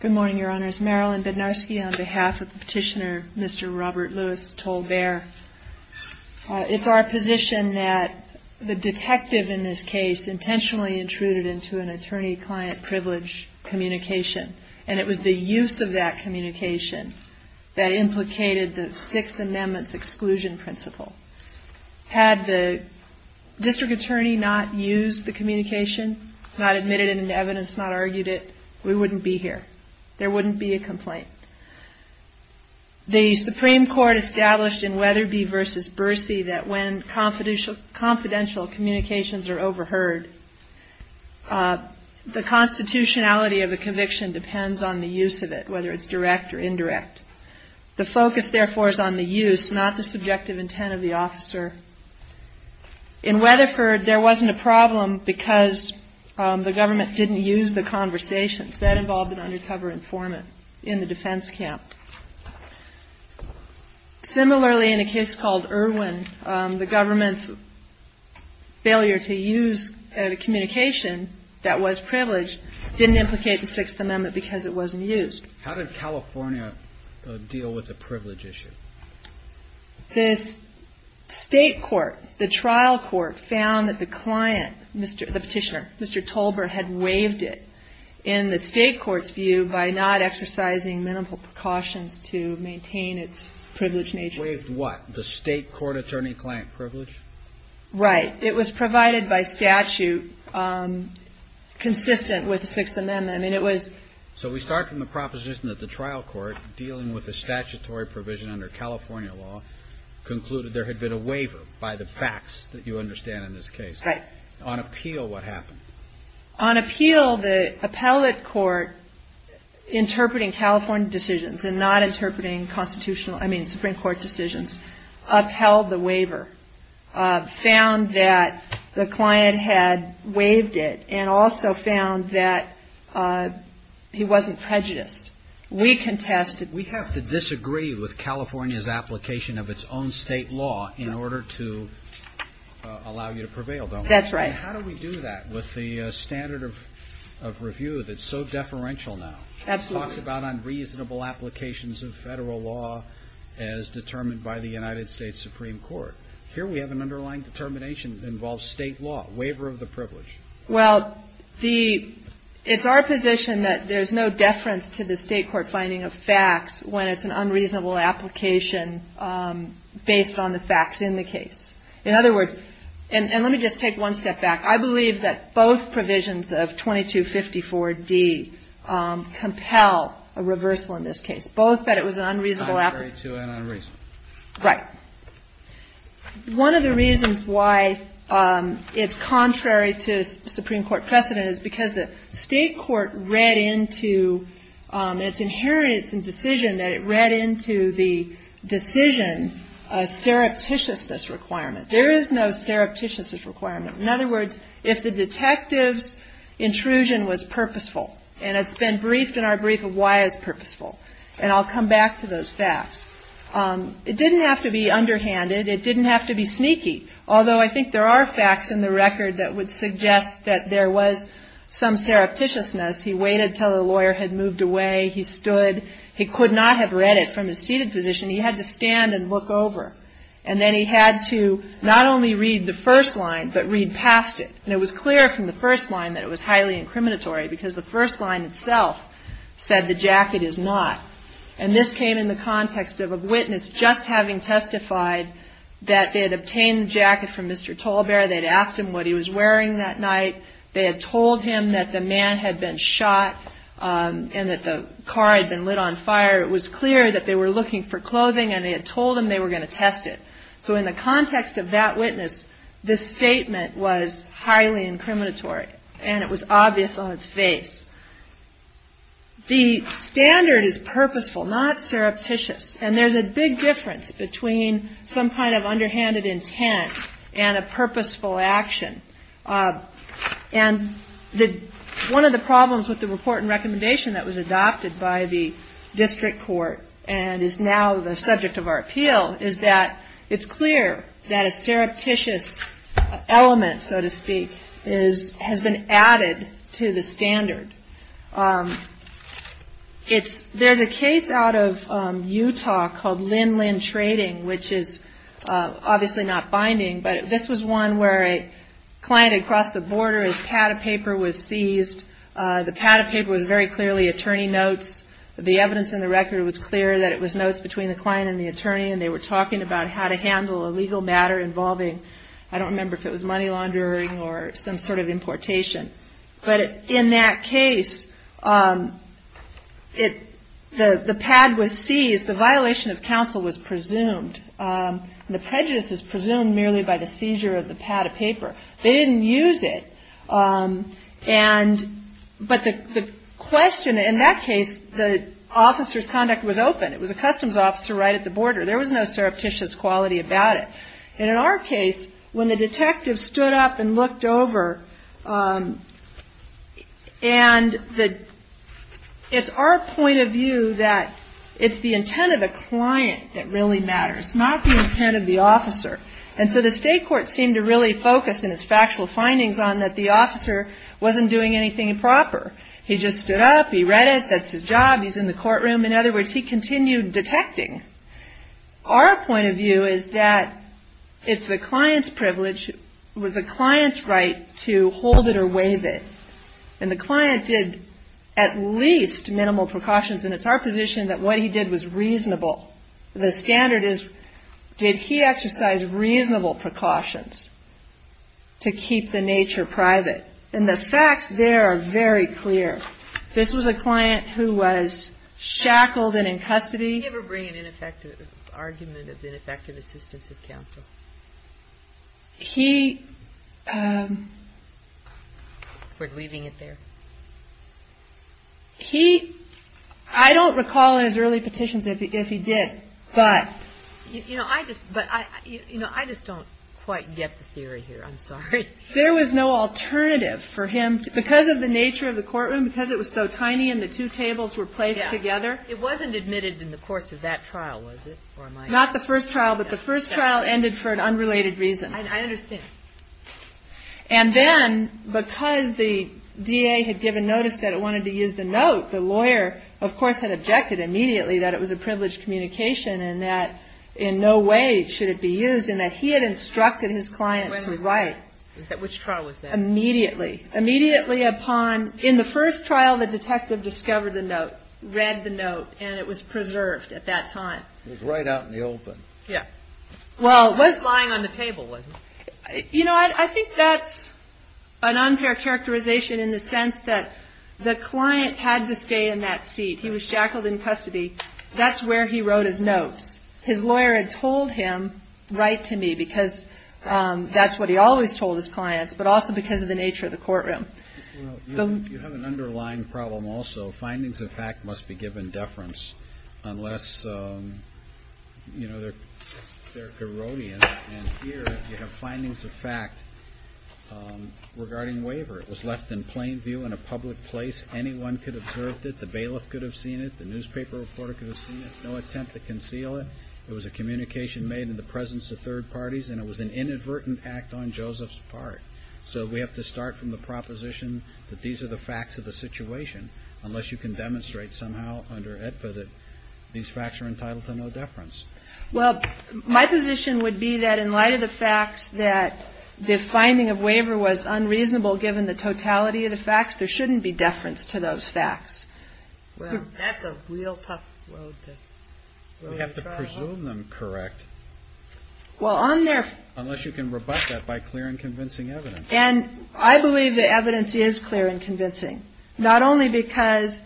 Good morning, Your Honors. Marilyn Bednarski on behalf of Petitioner Mr. Robert Lewis Tolbert. It's our position that the detective in this case intentionally intruded into an attorney-client privilege communication. And it was the use of that communication that implicated the Sixth Amendment's exclusion principle. Had the district attorney not used the communication, not admitted it into evidence, not argued it, we wouldn't be here. There wouldn't be a complaint. The Supreme Court established in Weatherby v. Bercy that when confidential communications are overheard, the constitutionality of a conviction depends on the use of it, whether it's direct or indirect. The focus, therefore, is on the use, not the subjective intent of the officer. In Weatherford, there wasn't a problem because the government didn't use the conversations. That involved an undercover informant in the defense camp. Similarly, in a case called Irwin, the government's failure to use a communication that was privileged didn't implicate the Sixth Amendment because it wasn't used. How did California deal with the privilege issue? The state court, the trial court, found that the client, the Petitioner, Mr. Tolbert, had waived it in the state court's view by not exercising minimal precautions to maintain its privilege major. Waived what? The state court attorney-client privilege? Right. It was provided by statute consistent with the Sixth Amendment. So we start from the proposition that the trial court, dealing with the statutory provision under California law, concluded there had been a waiver by the facts that you understand in this case. Right. On appeal, what happened? On appeal, the appellate court, interpreting California decisions and not interpreting constitutional, I mean, Supreme Court decisions, upheld the waiver, found that the client had waived it, and also found that he wasn't prejudiced. We contested. We have to disagree with California's application of its own state law in order to allow you to prevail, don't we? That's right. How do we do that with the standard of review that's so deferential now? Absolutely. We talked about unreasonable applications of Federal law as determined by the United States Supreme Court. Here we have an underlying determination that involves state law, waiver of the privilege. Well, the — it's our position that there's no deference to the state court finding of facts when it's an unreasonable application In other words — and let me just take one step back. I believe that both provisions of 2254d compel a reversal in this case, both that it was an unreasonable application. Contrary to and unreasonable. Right. One of the reasons why it's contrary to Supreme Court precedent is because the state court read into its inheritance and decision that it read into the decision a surreptitiousness requirement. There is no surreptitiousness requirement. In other words, if the detective's intrusion was purposeful, and it's been briefed in our brief of why it's purposeful, and I'll come back to those facts, it didn't have to be underhanded. It didn't have to be sneaky. Although I think there are facts in the record that would suggest that there was some surreptitiousness. He waited until the lawyer had moved away. He stood. He could not have read it from his seated position. He had to stand and look over. And then he had to not only read the first line, but read past it. And it was clear from the first line that it was highly incriminatory because the first line itself said the jacket is not. And this came in the context of a witness just having testified that they had obtained the jacket from Mr. Tolbert. They had asked him what he was wearing that night. They had told him that the man had been shot and that the car had been lit on fire. It was clear that they were looking for clothing, and they had told him they were going to test it. So in the context of that witness, this statement was highly incriminatory, and it was obvious on its face. The standard is purposeful, not surreptitious. And there's a big difference between some kind of underhanded intent and a purposeful action. And one of the problems with the report and recommendation that was adopted by the district court and is now the subject of our appeal is that it's clear that a surreptitious element, so to speak, has been added to the standard. There's a case out of Utah called Lin-Lin Trading, which is obviously not binding, but this was one where a client had crossed the border, his pad of paper was seized. The pad of paper was very clearly attorney notes. The evidence in the record was clear that it was notes between the client and the attorney, and they were talking about how to handle a legal matter involving, I don't remember if it was money laundering or some sort of importation. But in that case, the pad was seized. The violation of counsel was presumed. The prejudice is presumed merely by the seizure of the pad of paper. They didn't use it. But the question in that case, the officer's conduct was open. It was a customs officer right at the border. There was no surreptitious quality about it. And in our case, when the detective stood up and looked over, and it's our point of view that it's the intent of the client that really matters, not the intent of the officer. And so the state court seemed to really focus in its factual findings on that the officer wasn't doing anything improper. He just stood up. He read it. That's his job. He's in the courtroom. In other words, he continued detecting. Our point of view is that it's the client's privilege, it was the client's right to hold it or waive it. And the client did at least minimal precautions. And it's our position that what he did was reasonable. The standard is, did he exercise reasonable precautions to keep the nature private? And the facts there are very clear. This was a client who was shackled and in custody. Did he ever bring an argument of ineffective assistance of counsel? We're leaving it there. I don't recall in his early petitions if he did. But I just don't quite get the theory here. I'm sorry. There was no alternative for him. Because of the nature of the courtroom, because it was so tiny and the two tables were placed together. It wasn't admitted in the course of that trial, was it? Not the first trial, but the first trial ended for an unrelated reason. I understand. And then, because the DA had given notice that it wanted to use the note, the lawyer, of course, had objected immediately that it was a privileged communication and that in no way should it be used, and that he had instructed his client to write. When was that? Which trial was that? Immediately. Immediately. Immediately upon, in the first trial, the detective discovered the note, read the note, and it was preserved at that time. It was right out in the open. Yeah. Well, it was lying on the table, wasn't it? You know, I think that's an unfair characterization in the sense that the client had to stay in that seat. He was shackled in custody. That's where he wrote his notes. His lawyer had told him, write to me, because that's what he always told his clients, but also because of the nature of the courtroom. Well, you have an underlying problem also. Findings of fact must be given deference unless, you know, they're Geronians, and here you have findings of fact regarding waiver. It was left in plain view in a public place. Anyone could have observed it. The bailiff could have seen it. The newspaper reporter could have seen it. No attempt to conceal it. It was a communication made in the presence of third parties, and it was an inadvertent act on Joseph's part. So we have to start from the proposition that these are the facts of the situation, unless you can demonstrate somehow under AEDPA that these facts are entitled to no deference. Well, my position would be that in light of the facts that the finding of waiver was unreasonable, given the totality of the facts, there shouldn't be deference to those facts. Well, that's a real tough road to travel. We have to presume them correct. Unless you can rebut that by clear and convincing evidence. And I believe the evidence is clear and convincing, not only because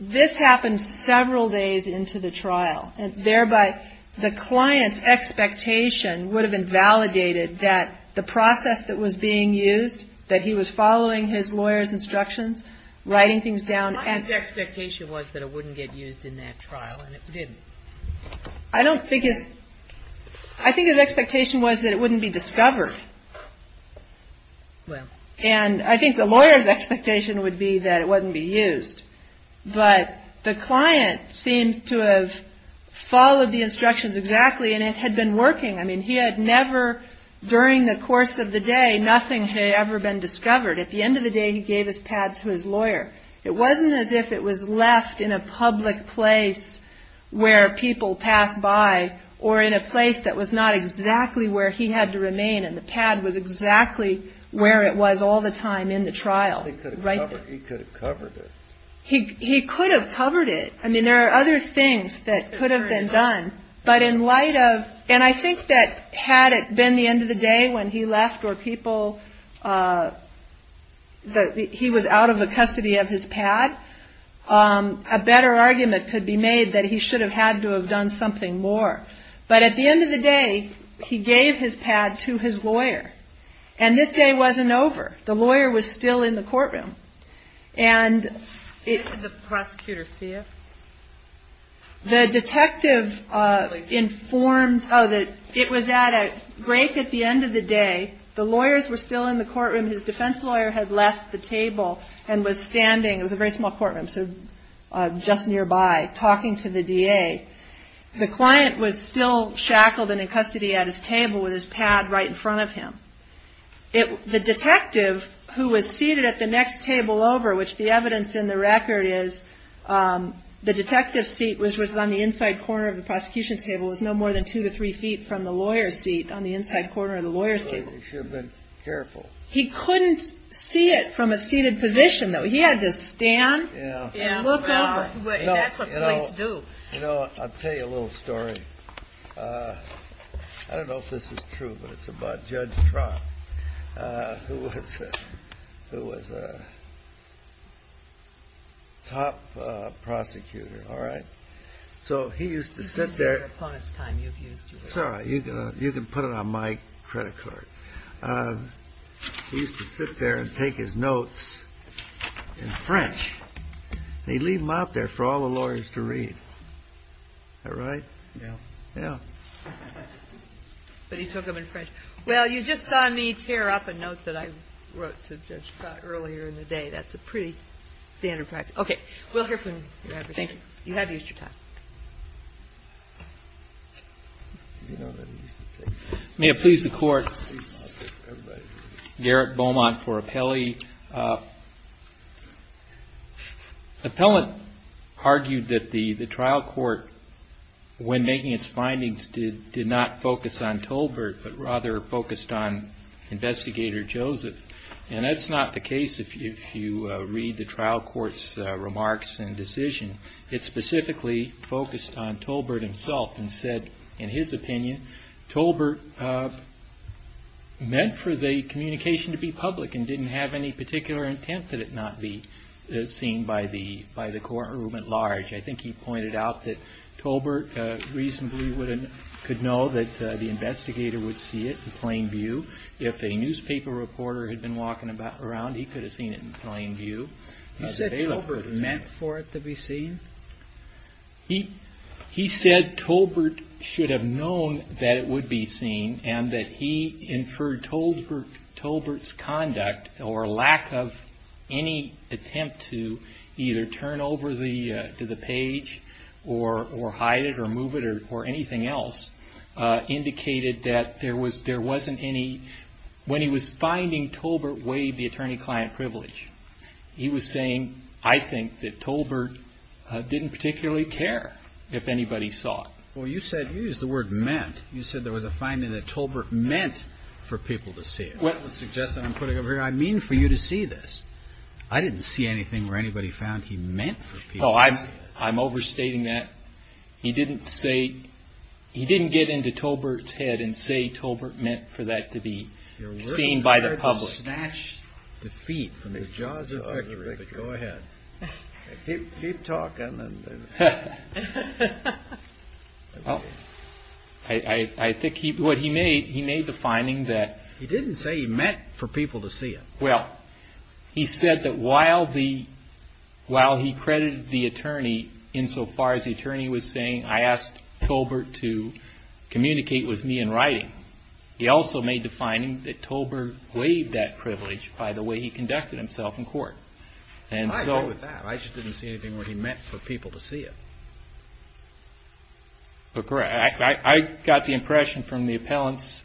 this happened several days into the trial, and thereby the client's expectation would have been validated that the process that was being used, that he was following his lawyer's instructions, writing things down. My expectation was that it wouldn't get used in that trial, and it didn't. I think his expectation was that it wouldn't be discovered. And I think the lawyer's expectation would be that it wouldn't be used. But the client seems to have followed the instructions exactly, and it had been working. I mean, he had never, during the course of the day, nothing had ever been discovered. At the end of the day, he gave his pad to his lawyer. It wasn't as if it was left in a public place where people passed by, or in a place that was not exactly where he had to remain, and the pad was exactly where it was all the time in the trial. He could have covered it. He could have covered it. I mean, there are other things that could have been done. But in light of, and I think that had it been the end of the day when he left, or people, he was out of the custody of his pad, a better argument could be made that he should have had to have done something more. But at the end of the day, he gave his pad to his lawyer. And this day wasn't over. The lawyer was still in the courtroom. Did the prosecutor see it? The detective informed, oh, it was at a break at the end of the day. The lawyers were still in the courtroom. His defense lawyer had left the table and was standing, it was a very small courtroom, so just nearby, talking to the DA. The client was still shackled and in custody at his table with his pad right in front of him. The detective, who was seated at the next table over, which the evidence in the record is the detective's seat, which was on the inside corner of the prosecution's table, was no more than two to three feet from the lawyer's seat on the inside corner of the lawyer's table. He should have been careful. He couldn't see it from a seated position, though. He had to stand and look over. That's what police do. You know, I'll tell you a little story. I don't know if this is true, but it's about Judge Trott, who was a top prosecutor, all right? So he used to sit there. You can put it on my credit card. He used to sit there and take his notes in French, and he'd leave them out there for all the lawyers to read. Is that right? Yeah. Yeah. But he took them in French. Well, you just saw me tear up a note that I wrote to Judge Trott earlier in the day. That's a pretty standard practice. Okay. We'll hear from you. Thank you. You have used your time. May it please the Court, Garrett Beaumont for appellee. Appellant argued that the trial court, when making its findings, did not focus on Tolbert, but rather focused on Investigator Joseph. And that's not the case if you read the trial court's remarks and decision. It specifically focused on Tolbert himself and said, in his opinion, Tolbert meant for the communication to be public and didn't have any particular intent that it not be seen by the courtroom at large. I think he pointed out that Tolbert reasonably could know that the investigator would see it in plain view. If a newspaper reporter had been walking around, he could have seen it in plain view. You said Tolbert meant for it to be seen? He said Tolbert should have known that it would be seen and that he inferred Tolbert's conduct or lack of any attempt to either turn over to the page or hide it or move it or anything else indicated that there wasn't any. When he was finding Tolbert waived the attorney-client privilege, he was saying, I think that Tolbert didn't particularly care if anybody saw it. Well, you said you used the word meant. You said there was a finding that Tolbert meant for people to see it. That would suggest that I'm putting it over here. I mean for you to see this. I didn't see anything where anybody found he meant for people to see it. I'm overstating that. He didn't get into Tolbert's head and say Tolbert meant for that to be seen by the public. You're ready to snatch defeat from the jaws of victory, but go ahead. Keep talking. I think what he made, he made the finding that... He didn't say he meant for people to see it. Well, he said that while he credited the attorney insofar as the attorney was saying, I asked Tolbert to communicate with me in writing, he also made the finding that Tolbert waived that privilege by the way he conducted himself in court. I agree with that. I just didn't see anything where he meant for people to see it. Correct. I got the impression from the appellant's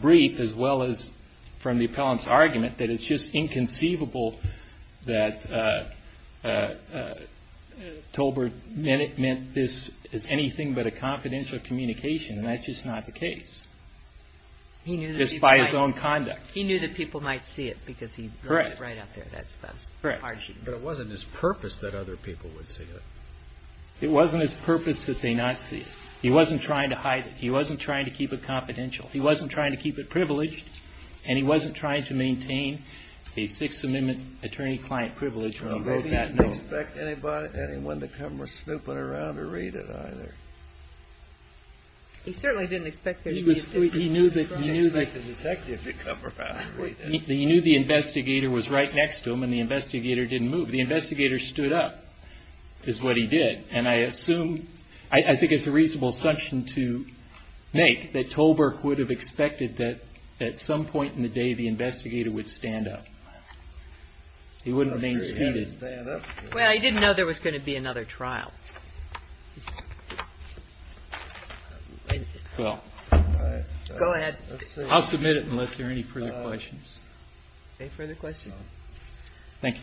brief as well as from the appellant's argument that it's just inconceivable that Tolbert meant this as anything but a confidential communication. That's just not the case. Just by his own conduct. He knew that people might see it because he wrote it right up there. Correct. But it wasn't his purpose that other people would see it. It wasn't his purpose that they not see it. He wasn't trying to hide it. He wasn't trying to keep it confidential. He wasn't trying to keep it privileged, and he wasn't trying to maintain a Sixth Amendment attorney-client privilege when he wrote that note. And he didn't expect anyone to come snooping around to read it either. He certainly didn't expect there to be a... He knew that... He didn't expect a detective to come around and read it. He knew the investigator was right next to him and the investigator didn't move. The investigator stood up, is what he did. And I assume, I think it's a reasonable assumption to make, that Tolbert would have expected that at some point in the day the investigator would stand up. He wouldn't have been seated. Well, he didn't know there was going to be another trial. Well... Go ahead. I'll submit it unless there are any further questions. Any further questions? Thank you.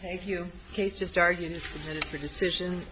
Thank you. The case just argued is submitted for decision.